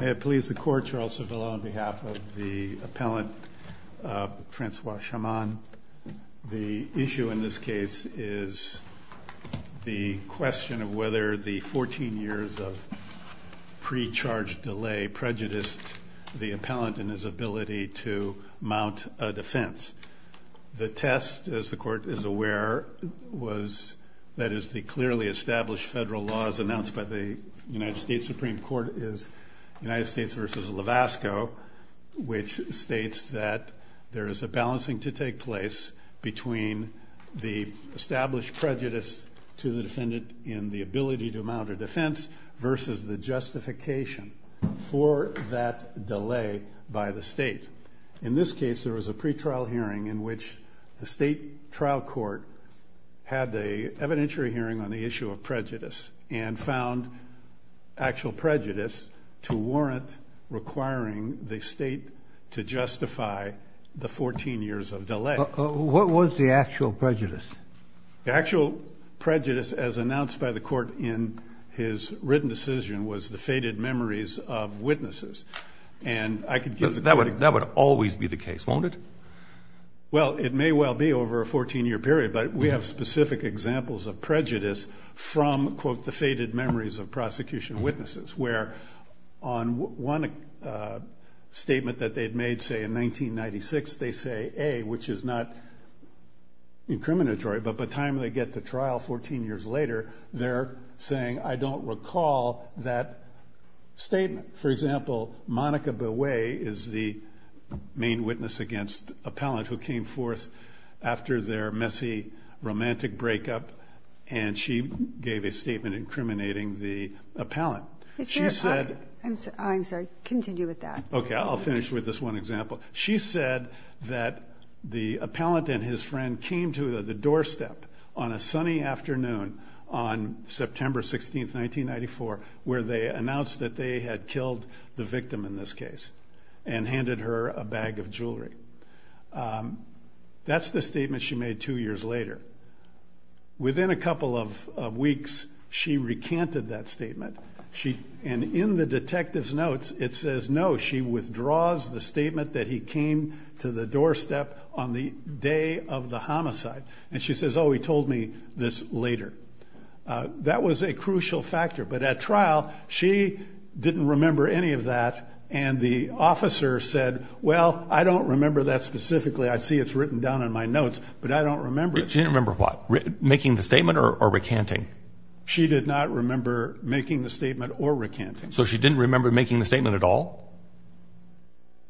May it please the Court, Charles Cervillo on behalf of the appellant Franswa Shammam. The issue in this case is the question of whether the 14 years of pre-charge delay prejudiced the appellant in his ability to mount a defense. The test, as the Court is aware, that is the clearly established federal laws announced by the United States Supreme Court is United States v. Levasco which states that there is a balancing to take place between the established prejudice to the defendant in the ability to mount a defense versus the justification for that delay by the state. In this case, there was a pretrial hearing in which the state trial court had an evidentiary hearing on the issue of prejudice and found actual prejudice to warrant requiring the state to justify the 14 years of delay. What was the actual prejudice? The actual prejudice as announced by the Court in his written decision was the faded memories of witnesses. That would always be the case, won't it? Well, it may well be over a 14-year period, but we have specific examples of prejudice from, quote, the faded memories of prosecution witnesses where on one statement that they'd made, say, in 1996, they say, A, which is not incriminatory, but by the time they get to trial 14 years later, they're saying, I don't recall that statement. For example, Monica Boway is the main witness against Appellant who came forth after their messy romantic breakup, and she gave a statement incriminating the Appellant. She said that the Appellant and his friend came to the doorstep on a sunny afternoon on September 16, 1994, where they announced that they had killed the victim in this case and handed her a bag of jewelry. That's the statement she made two years later. Within a couple of weeks, she recanted that statement, and in the detective's notes, it says, No, she withdraws the statement that he came to the doorstep on the day of the homicide. And she says, Oh, he told me this later. That was a crucial factor. But at trial, she didn't remember any of that, and the officer said, Well, I don't remember that specifically. I see it's written down in my notes, but I don't remember it. She didn't remember what? Making the statement or recanting? She did not remember making the statement or recanting. So she didn't remember making the statement at all?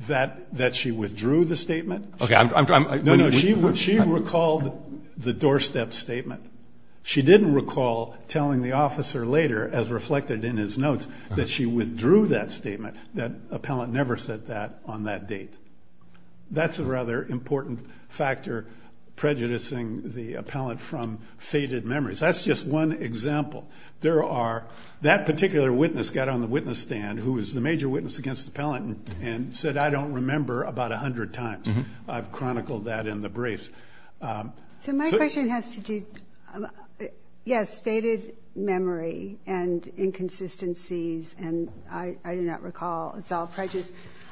That she withdrew the statement? Okay. No, no, she recalled the doorstep statement. She didn't recall telling the officer later, as reflected in his notes, that she withdrew that statement, that appellant never said that on that date. That's a rather important factor prejudicing the appellant from faded memories. That's just one example. There are that particular witness got on the witness stand, who is the major witness against the appellant, and said, I don't remember about 100 times. I've chronicled that in the briefs. So my question has to do, yes, faded memory and inconsistencies, and I do not recall. It's all prejudice.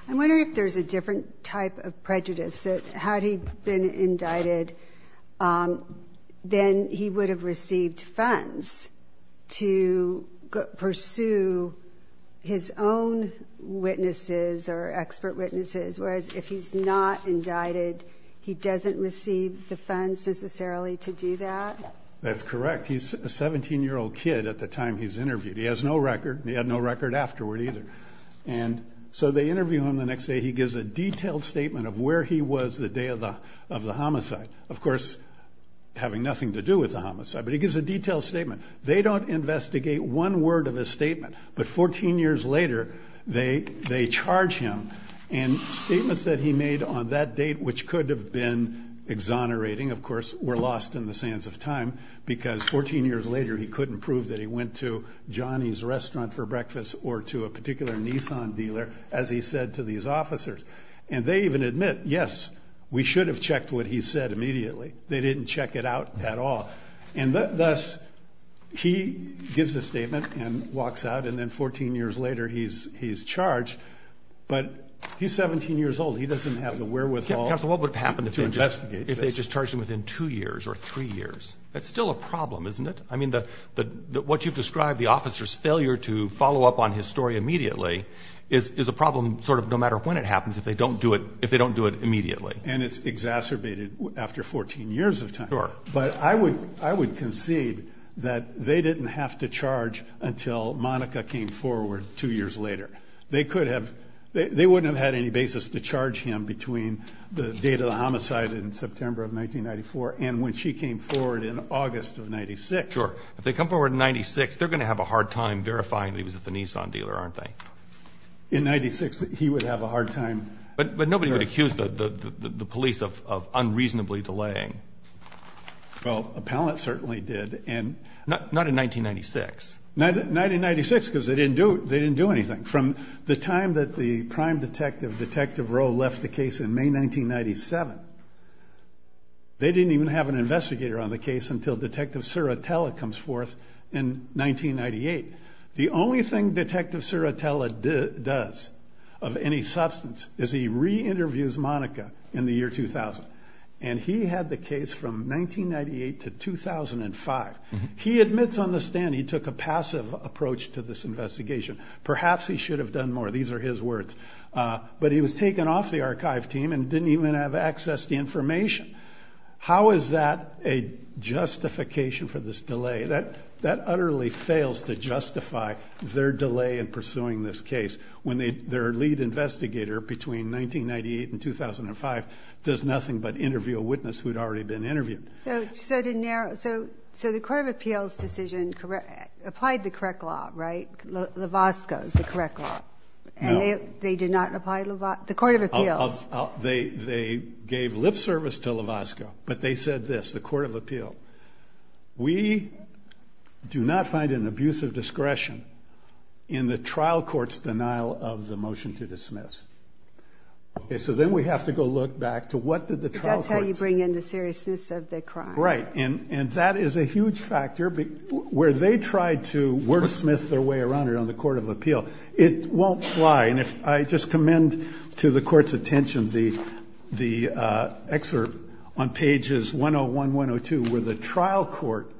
I'm wondering if there's a different type of prejudice, that had he been indicted, then he would have received funds to pursue his own witnesses or expert witnesses, whereas if he's not indicted, he doesn't receive the funds necessarily to do that? That's correct. He's a 17-year-old kid at the time he's interviewed. He has no record, and he had no record afterward either. So they interview him the next day. He gives a detailed statement of where he was the day of the homicide, of course having nothing to do with the homicide, but he gives a detailed statement. They don't investigate one word of his statement, but 14 years later, they charge him, and statements that he made on that date, which could have been exonerating, of course, were lost in the sands of time, because 14 years later, he couldn't prove that he went to Johnny's restaurant for breakfast or to a particular Nissan dealer, as he said to these officers. And they even admit, yes, we should have checked what he said immediately. They didn't check it out at all. And thus, he gives a statement and walks out, and then 14 years later, he's charged, but he's 17 years old. He doesn't have the wherewithal to investigate this. Counsel, what would have happened if they just charged him within two years or three years? That's still a problem, isn't it? I mean, what you've described, the officer's failure to follow up on his story immediately, is a problem sort of no matter when it happens if they don't do it immediately. And it's exacerbated after 14 years of time. Sure. But I would concede that they didn't have to charge until Monica came forward two years later. They could have – they wouldn't have had any basis to charge him between the date of the homicide in September of 1994 and when she came forward in August of 96. Sure. If they come forward in 96, they're going to have a hard time verifying that he was at the Nissan dealer, aren't they? In 96, he would have a hard time. But nobody would accuse the police of unreasonably delaying. Well, appellants certainly did. Not in 1996. 1996, because they didn't do anything. From the time that the prime detective, Detective Rowe, left the case in May 1997, they didn't even have an investigator on the case until Detective Sirotella comes forth in 1998. The only thing Detective Sirotella does of any substance is he re-interviews Monica in the year 2000. And he had the case from 1998 to 2005. He admits on the stand he took a passive approach to this investigation. Perhaps he should have done more. These are his words. But he was taken off the archive team and didn't even have access to information. How is that a justification for this delay? That utterly fails to justify their delay in pursuing this case when their lead investigator between 1998 and 2005 does nothing but interview a witness who had already been interviewed. So the Court of Appeals decision applied the correct law, right? LAVOSCO is the correct law. And they did not apply LAVOSCO? The Court of Appeals. They gave lip service to LAVOSCO. But they said this, the Court of Appeals, we do not find an abuse of discretion in the trial court's denial of the motion to dismiss. So then we have to go look back to what did the trial court say? Bring in the seriousness of the crime. Right. And that is a huge factor. Where they tried to wordsmith their way around it on the Court of Appeals, it won't fly. And I just commend to the Court's attention the excerpt on pages 101, 102, where the trial court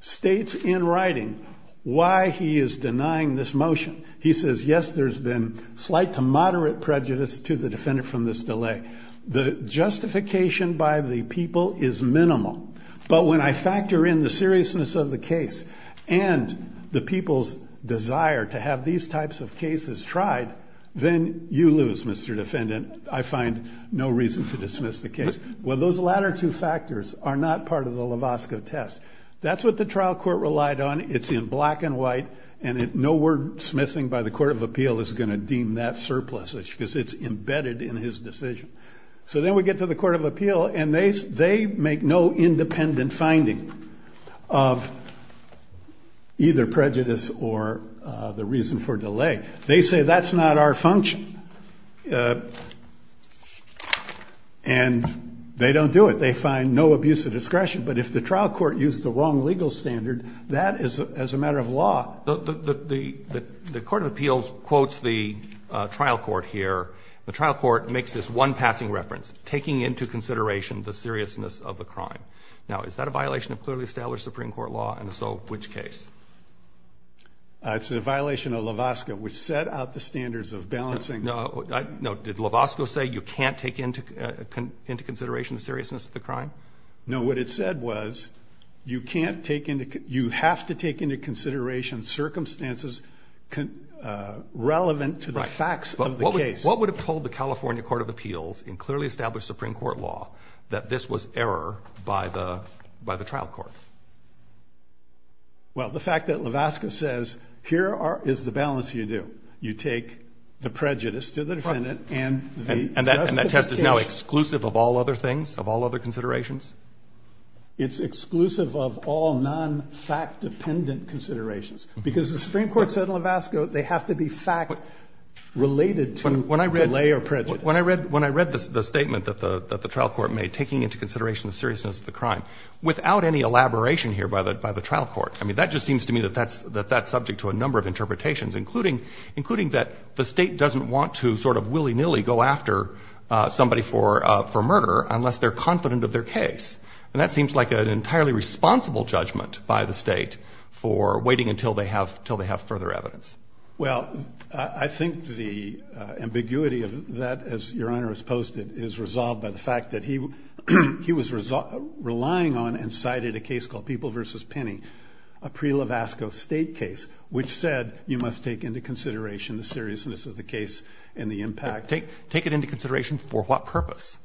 states in writing why he is denying this motion. He says, yes, there's been slight to moderate prejudice to the defendant from this delay. The justification by the people is minimal. But when I factor in the seriousness of the case and the people's desire to have these types of cases tried, then you lose, Mr. Defendant. I find no reason to dismiss the case. Well, those latter two factors are not part of the LAVOSCO test. That's what the trial court relied on. It's in black and white. And no wordsmithing by the Court of Appeal is going to deem that surplus, because it's embedded in his decision. So then we get to the Court of Appeal, and they make no independent finding of either prejudice or the reason for delay. They say that's not our function. And they don't do it. They find no abuse of discretion. But if the trial court used the wrong legal standard, that is a matter of law. The Court of Appeals quotes the trial court here. The trial court makes this one passing reference, taking into consideration the seriousness of the crime. Now, is that a violation of clearly established Supreme Court law? And if so, which case? It's a violation of LAVOSCO, which set out the standards of balancing. No. Did LAVOSCO say you can't take into consideration the seriousness of the crime? No. What it said was you can't take into – you have to take into consideration circumstances relevant to the facts of the case. Right. But what would have told the California Court of Appeals in clearly established Supreme Court law that this was error by the trial court? Well, the fact that LAVOSCO says here is the balance you do. You take the prejudice to the defendant and the justice to the case. Is that now exclusive of all other things, of all other considerations? It's exclusive of all non-fact-dependent considerations, because the Supreme Court said in LAVOSCO they have to be fact related to delay or prejudice. When I read the statement that the trial court made, taking into consideration the seriousness of the crime, without any elaboration here by the trial court, I mean, that just seems to me that that's subject to a number of interpretations, including that the State doesn't want to sort of willy-nilly go after somebody for murder unless they're confident of their case. And that seems like an entirely responsible judgment by the State for waiting until they have further evidence. Well, I think the ambiguity of that, as Your Honor has posted, is resolved by the fact that he was relying on and cited a case called People v. Penny, a pre-LAVOSCO State case, which said you must take into consideration the seriousness of the case and the impact. Take it into consideration for what purpose?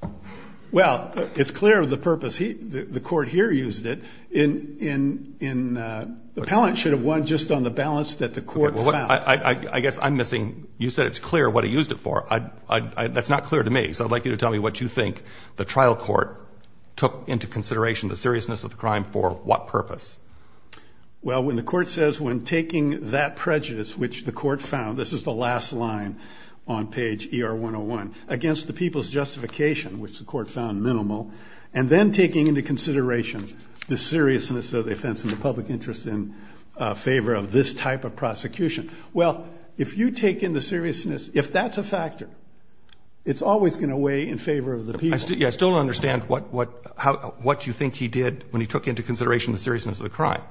Well, it's clear the purpose. The Court here used it in the appellant should have won just on the balance that the Court found. Okay. Well, I guess I'm missing. You said it's clear what he used it for. That's not clear to me. So I'd like you to tell me what you think the trial court took into consideration, the seriousness of the crime, for what purpose. Well, when the Court says when taking that prejudice which the Court found, this is the last line on page ER101, against the people's justification, which the Court found minimal, and then taking into consideration the seriousness of the offense and the public interest in favor of this type of prosecution, well, if you take in the seriousness, if that's a factor, it's always going to weigh in favor of the people. I still don't understand what you think he did when he took into consideration the seriousness of the crime.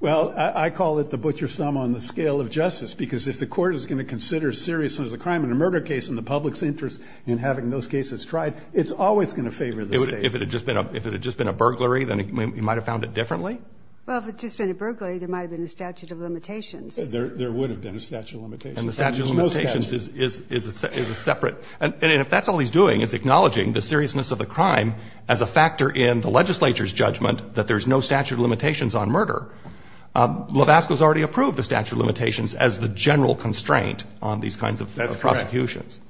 Well, I call it the butcher's thumb on the scale of justice, because if the Court is going to consider seriousness of the crime in a murder case and the public's interest in having those cases tried, it's always going to favor the State. If it had just been a burglary, then he might have found it differently? Well, if it had just been a burglary, there might have been a statute of limitations. There would have been a statute of limitations. And the statute of limitations is a separate. And if that's all he's doing is acknowledging the seriousness of the crime as a factor in the legislature's judgment that there's no statute of limitations on murder, Lovasco has already approved the statute of limitations as the general constraint on these kinds of prosecutions. That's correct.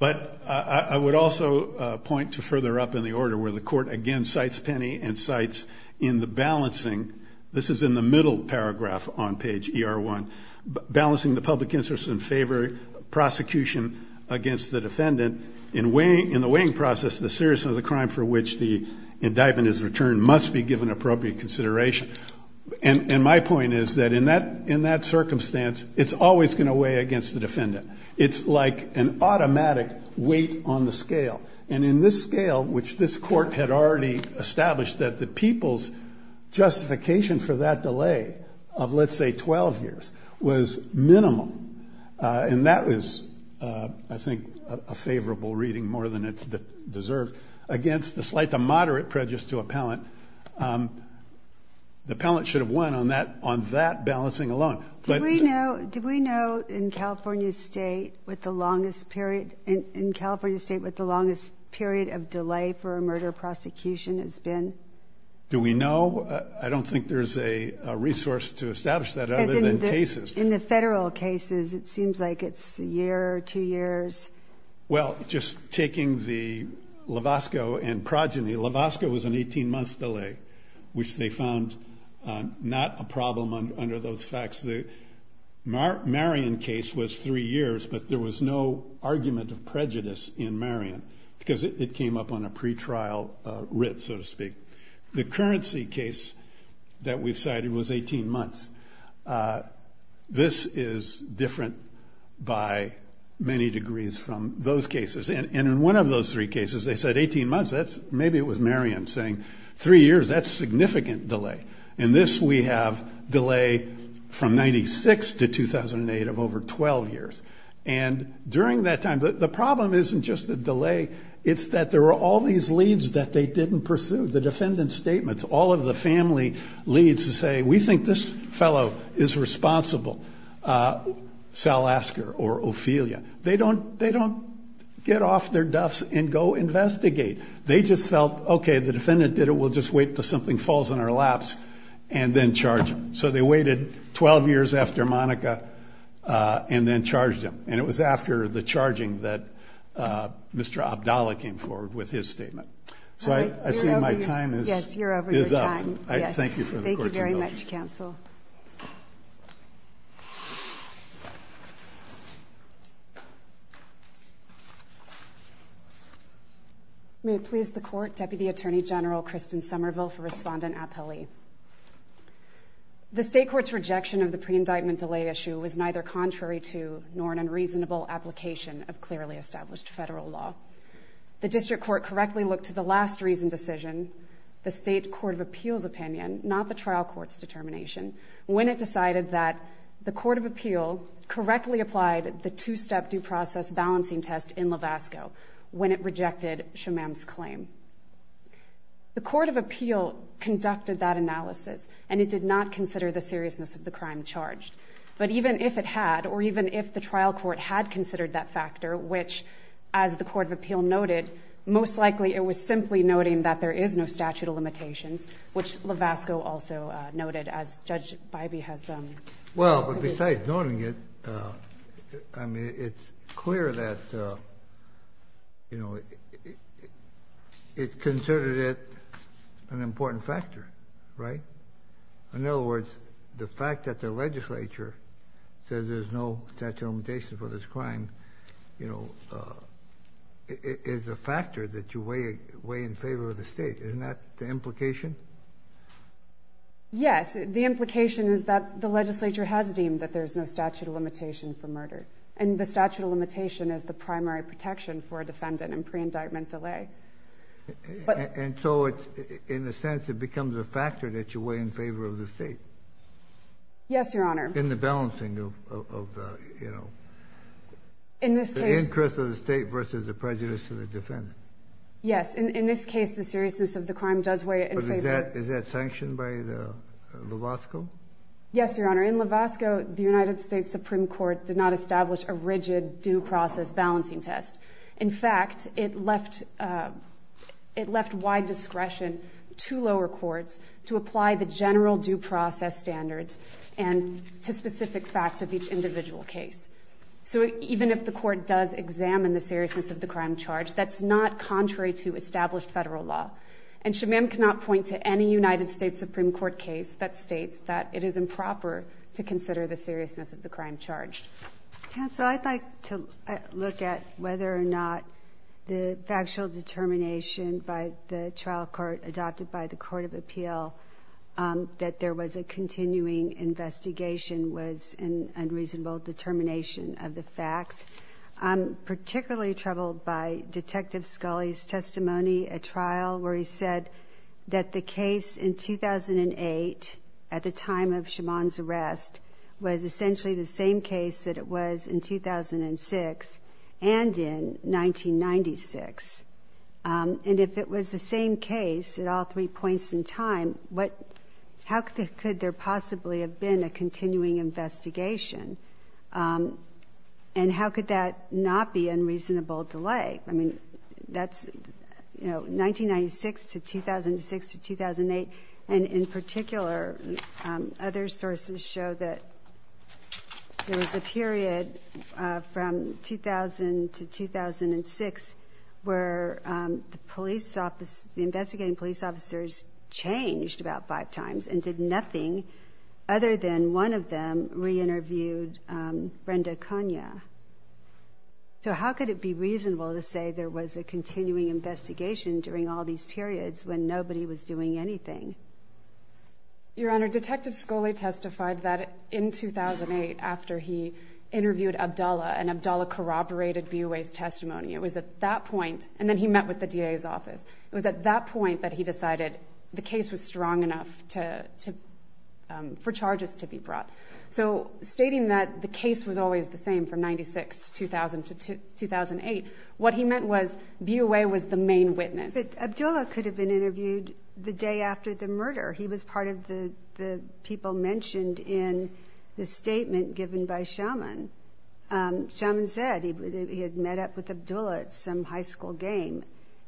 But I would also point to further up in the order where the Court again cites Penny and cites in the balancing. This is in the middle paragraph on page ER1. Balancing the public interest in favor of prosecution against the defendant in the weighing process, the seriousness of the crime for which the indictment is returned must be given appropriate consideration. And my point is that in that circumstance, it's always going to weigh against the defendant. It's like an automatic weight on the scale. And in this scale, which this Court had already established that the people's justification for that delay of, let's say, 12 years was minimum. And that was, I think, a favorable reading more than it deserved against the slight or the moderate prejudice to appellant. The appellant should have won on that balancing alone. Do we know in California State what the longest period of delay for a murder prosecution has been? Do we know? I don't think there's a resource to establish that other than cases. In the Federal cases, it seems like it's a year, two years. Well, just taking the Lovasco and Progeny, Lovasco was an 18-month delay, which they found not a problem under those facts. The Marion case was three years, but there was no argument of prejudice in Marion because it came up on a pretrial writ, so to speak. The Currency case that we've cited was 18 months. This is different by many degrees from those cases. And in one of those three cases, they said 18 months. Maybe it was Marion saying three years, that's significant delay. In this, we have delay from 1996 to 2008 of over 12 years. And during that time, the problem isn't just the delay, it's that there were all these leads that they didn't pursue. The defendant's statements, all of the family leads to say, we think this fellow is responsible, Salasker or Ophelia. They don't get off their duffs and go investigate. They just felt, okay, the defendant did it, we'll just wait until something falls in our laps and then charge him. So they waited 12 years after Monica and then charged him. And it was after the charging that Mr. Abdallah came forward with his statement. So I see my time is up. Thank you for the court's indulgence. Thank you very much, counsel. May it please the court, Deputy Attorney General Kristen Somerville for respondent appellee. The state court's rejection of the pre-indictment delay issue was neither contrary to nor an unreasonable application of clearly established federal law. The district court correctly looked to the last reason decision, the state court of appeal's opinion, not the trial court's determination, when it decided that the court of appeal correctly applied the two-step due process balancing test in Lovasco when it rejected Shamam's claim. The court of appeal conducted that analysis, and it did not consider the seriousness of the crime charged. But even if it had, or even if the trial court had considered that factor, which as the court of appeal noted, most likely it was simply noting that there is no statute of limitations, which Lovasco also noted as Judge Bybee has done. Well, but besides noting it, I mean, it's clear that, you know, it considered it an important factor, right? In other words, the fact that the legislature says there's no statute of limitations for this crime, you know, is a factor that you weigh in favor of the state. Isn't that the implication? Yes. The implication is that the legislature has deemed that there's no statute of limitation for murder, and the statute of limitation is the primary protection for a defendant in pre-indictment delay. And so it's, in a sense, it becomes a factor that you weigh in favor of the state. Yes, Your Honor. In the balancing of the, you know, the interest of the state versus the prejudice to the defendant. Yes. In this case, the seriousness of the crime does weigh in favor. But is that sanctioned by the Lovasco? Yes, Your Honor. In Lovasco, the United States Supreme Court did not establish a rigid due process balancing test. In fact, it left wide discretion to lower courts to apply the general due process standards and to specific facts of each individual case. So even if the court does examine the seriousness of the crime charged, that's not contrary to established Federal law. And Shamim cannot point to any United States Supreme Court case that states that it is improper to consider the seriousness of the crime charged. Counsel, I'd like to look at whether or not the factual determination by the trial court adopted by the Court of Appeal that there was a continuing investigation was an unreasonable determination of the facts. I'm particularly troubled by Detective Scully's testimony at trial where he said that the case in 2008, at the time of Shimon's arrest, was essentially the same case that it was in 2006 and in 1996. And if it was the same case at all three points in time, how could there possibly have been a continuing investigation? And how could that not be unreasonable delay? I mean, that's, you know, 1996 to 2006 to 2008. And in particular, other sources show that there was a period from 2000 to 2006 where the investigating police officers changed about five times and did nothing other than one of them re-interviewed Brenda Konya. So how could it be reasonable to say there was a continuing investigation during all these periods when nobody was doing anything? Your Honor, Detective Scully testified that in 2008 after he interviewed Abdallah and Abdallah corroborated BUA's testimony. It was at that point, and then he met with the DA's office, it was at that point that he decided the case was strong enough for charges to be brought. So stating that the case was always the same from 1996 to 2008, what he meant was BUA was the main witness. But Abdallah could have been interviewed the day after the murder. He was part of the people mentioned in the statement given by Shimon. Shimon said he had met up with Abdallah at some high school game,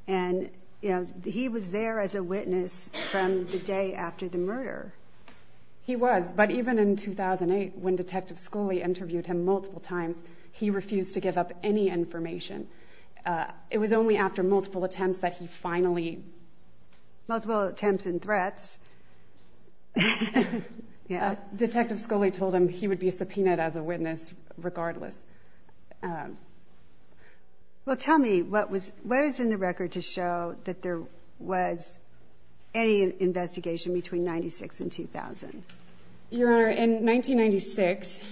and he was there as a witness from the day after the murder. He was, but even in 2008 when Detective Scully interviewed him multiple times, he refused to give up any information. It was only after multiple attempts that he finally... Multiple attempts and threats. Detective Scully told him he would be subpoenaed as a witness regardless. Well, tell me, what is in the record to show that there was any investigation between 1996 and 2000? Your Honor, in 1996,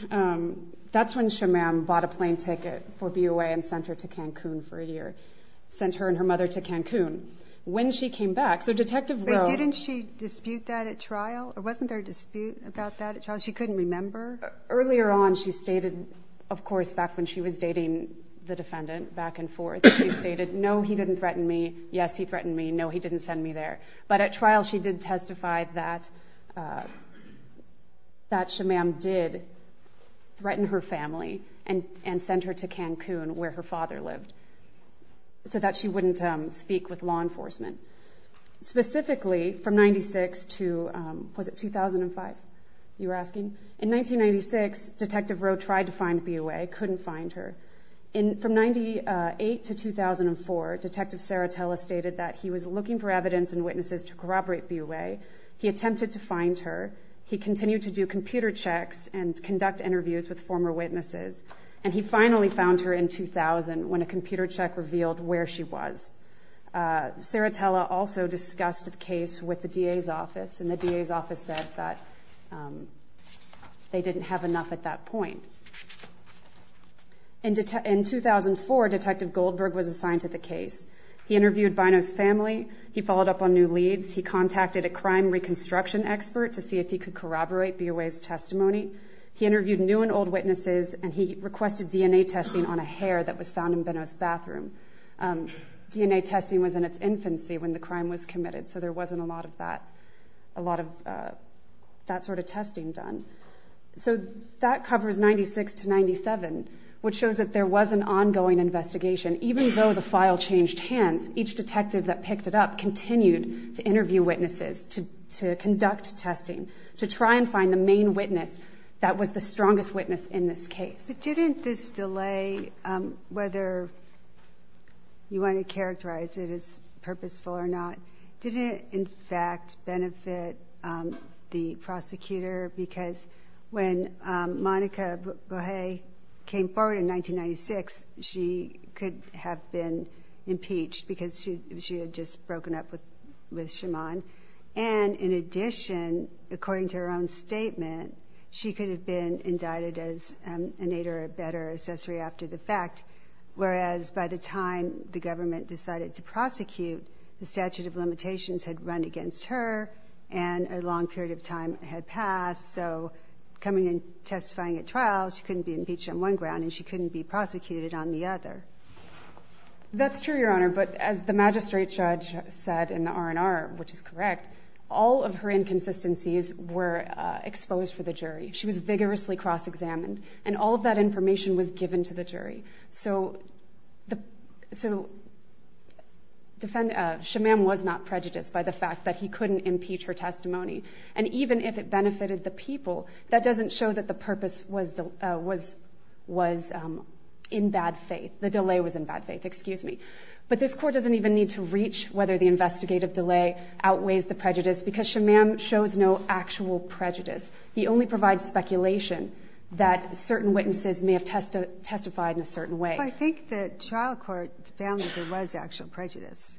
that's when Shimon bought a plane ticket for BUA and sent her to Cancun for a year, sent her and her mother to Cancun. When she came back, so Detective Rowe... Was there a dispute about that at trial, or wasn't there a dispute about that at trial? She couldn't remember? Earlier on she stated, of course, back when she was dating the defendant back and forth, she stated, no, he didn't threaten me. Yes, he threatened me. No, he didn't send me there. But at trial she did testify that Shimon did threaten her family and sent her to Cancun where her father lived so that she wouldn't speak with law enforcement. Specifically, from 1996 to 2005, you were asking? In 1996, Detective Rowe tried to find BUA, couldn't find her. From 1998 to 2004, Detective Saratella stated that he was looking for evidence and witnesses to corroborate BUA. He attempted to find her. He continued to do computer checks and conduct interviews with former witnesses. And he finally found her in 2000 when a computer check revealed where she was. Saratella also discussed the case with the DA's office, and the DA's office said that they didn't have enough at that point. In 2004, Detective Goldberg was assigned to the case. He interviewed Bino's family. He followed up on new leads. He contacted a crime reconstruction expert to see if he could corroborate BUA's testimony. He interviewed new and old witnesses, and he requested DNA testing on a hair that was found in Bino's bathroom. DNA testing was in its infancy when the crime was committed, so there wasn't a lot of that sort of testing done. So that covers 1996 to 1997, which shows that there was an ongoing investigation. Even though the file changed hands, each detective that picked it up continued to interview witnesses, to conduct testing, to try and find the main witness that was the strongest witness in this case. But didn't this delay, whether you want to characterize it as purposeful or not, didn't it, in fact, benefit the prosecutor? Because when Monica Bohe came forward in 1996, she could have been impeached because she had just broken up with Shimon. And in addition, according to her own statement, she could have been indicted as an aid or a better accessory after the fact, whereas by the time the government decided to prosecute, the statute of limitations had run against her and a long period of time had passed. So coming and testifying at trial, she couldn't be impeached on one ground and she couldn't be prosecuted on the other. That's true, Your Honor, but as the magistrate judge said in the R&R, which is correct, all of her inconsistencies were exposed for the jury. She was vigorously cross-examined and all of that information was given to the jury. So Shimon was not prejudiced by the fact that he couldn't impeach her testimony. And even if it benefited the people, that doesn't show that the purpose was in bad faith. The delay was in bad faith, excuse me. But this Court doesn't even need to reach whether the investigative delay outweighs the prejudice because Shimon shows no actual prejudice. He only provides speculation that certain witnesses may have testified in a certain way. Well, I think the trial court found that there was actual prejudice.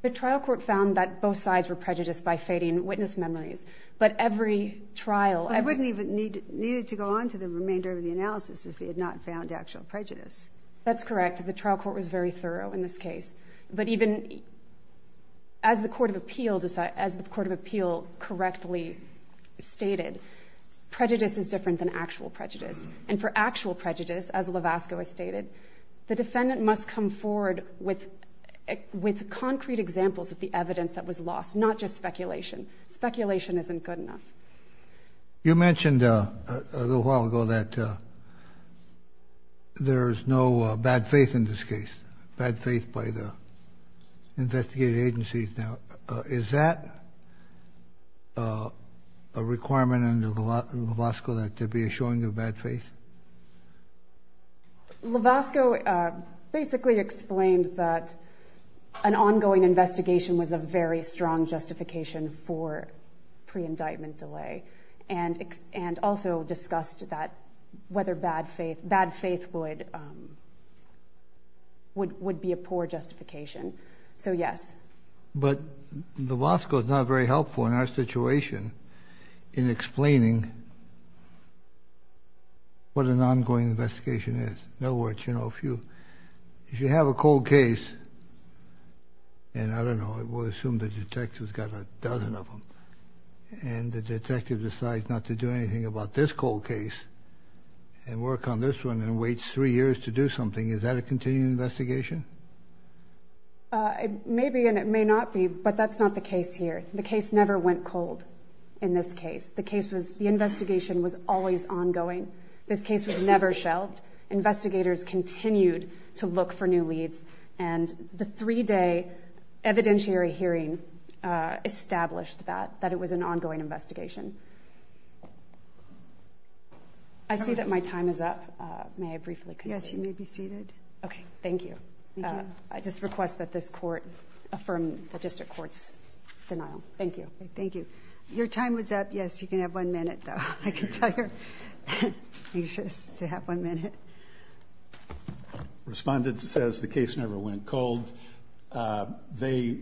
The trial court found that both sides were prejudiced by fading witness memories. But every trial – I wouldn't even need it to go on to the remainder of the analysis if we had not found actual prejudice. That's correct. The trial court was very thorough in this case. But even as the court of appeal correctly stated, prejudice is different than actual prejudice. And for actual prejudice, as Levasco has stated, the defendant must come forward with concrete examples of the evidence that was lost, not just speculation. Speculation isn't good enough. You mentioned a little while ago that there is no bad faith in this case, bad faith by the investigative agencies. Is that a requirement under Levasco, that there be a showing of bad faith? Levasco basically explained that an ongoing investigation was a very strong justification for pre-indictment delay and also discussed that whether bad faith would be a poor justification. So, yes. But Levasco is not very helpful in our situation in explaining what an ongoing investigation is. In other words, if you have a cold case, and I don't know, we'll assume the detective's got a dozen of them, and the detective decides not to do anything about this cold case and work on this one and waits three years to do something, is that a continuing investigation? It may be and it may not be, but that's not the case here. The case never went cold in this case. The investigation was always ongoing. This case was never shelved. Investigators continued to look for new leads, and the three-day evidentiary hearing established that it was an ongoing investigation. I see that my time is up. May I briefly continue? Yes, you may be seated. Okay. Thank you. I just request that this court affirm the district court's denial. Thank you. Thank you. Your time was up. Yes, you can have one minute, though. I can tell you're anxious to have one minute. Respondent says the case never went cold. They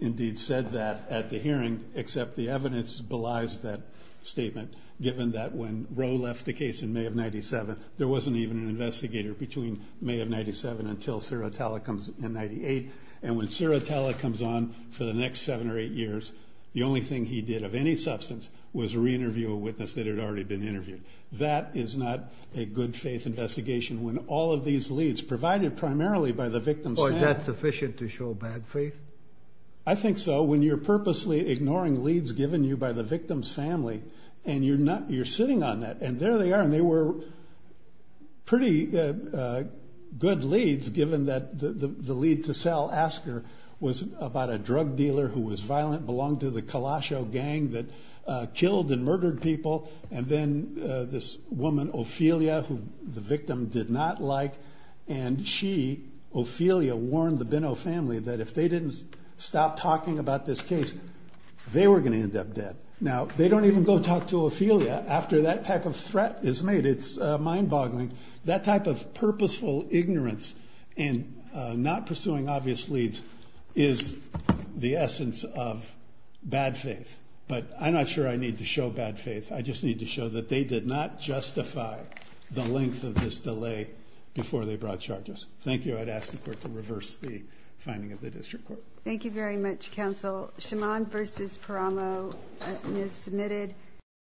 indeed said that at the hearing, except the evidence belies that statement, given that when Roe left the case in May of 97, there wasn't even an investigator between May of 97 until Sirotella comes in 98, and when Sirotella comes on for the next seven or eight years, the only thing he did of any substance was reinterview a witness that had already been interviewed. That is not a good-faith investigation when all of these leads, provided primarily by the victim's family. Or is that sufficient to show bad faith? I think so. When you're purposely ignoring leads given you by the victim's family, and you're sitting on that, and there they are, and they were pretty good leads, given that the lead to sell, Asker, was about a drug dealer who was violent, belonged to the Kalasho gang that killed and murdered people, and then this woman, Ophelia, who the victim did not like, and she, Ophelia, warned the Binot family that if they didn't stop talking about this case, they were going to end up dead. Now, they don't even go talk to Ophelia after that type of threat is made. It's mind-boggling. That type of purposeful ignorance and not pursuing obvious leads is the essence of bad faith. But I'm not sure I need to show bad faith. I just need to show that they did not justify the length of this delay before they brought charges. Thank you. I'd ask the Court to reverse the finding of the District Court. Thank you very much, Counsel. Shimon v. Paramo is submitted.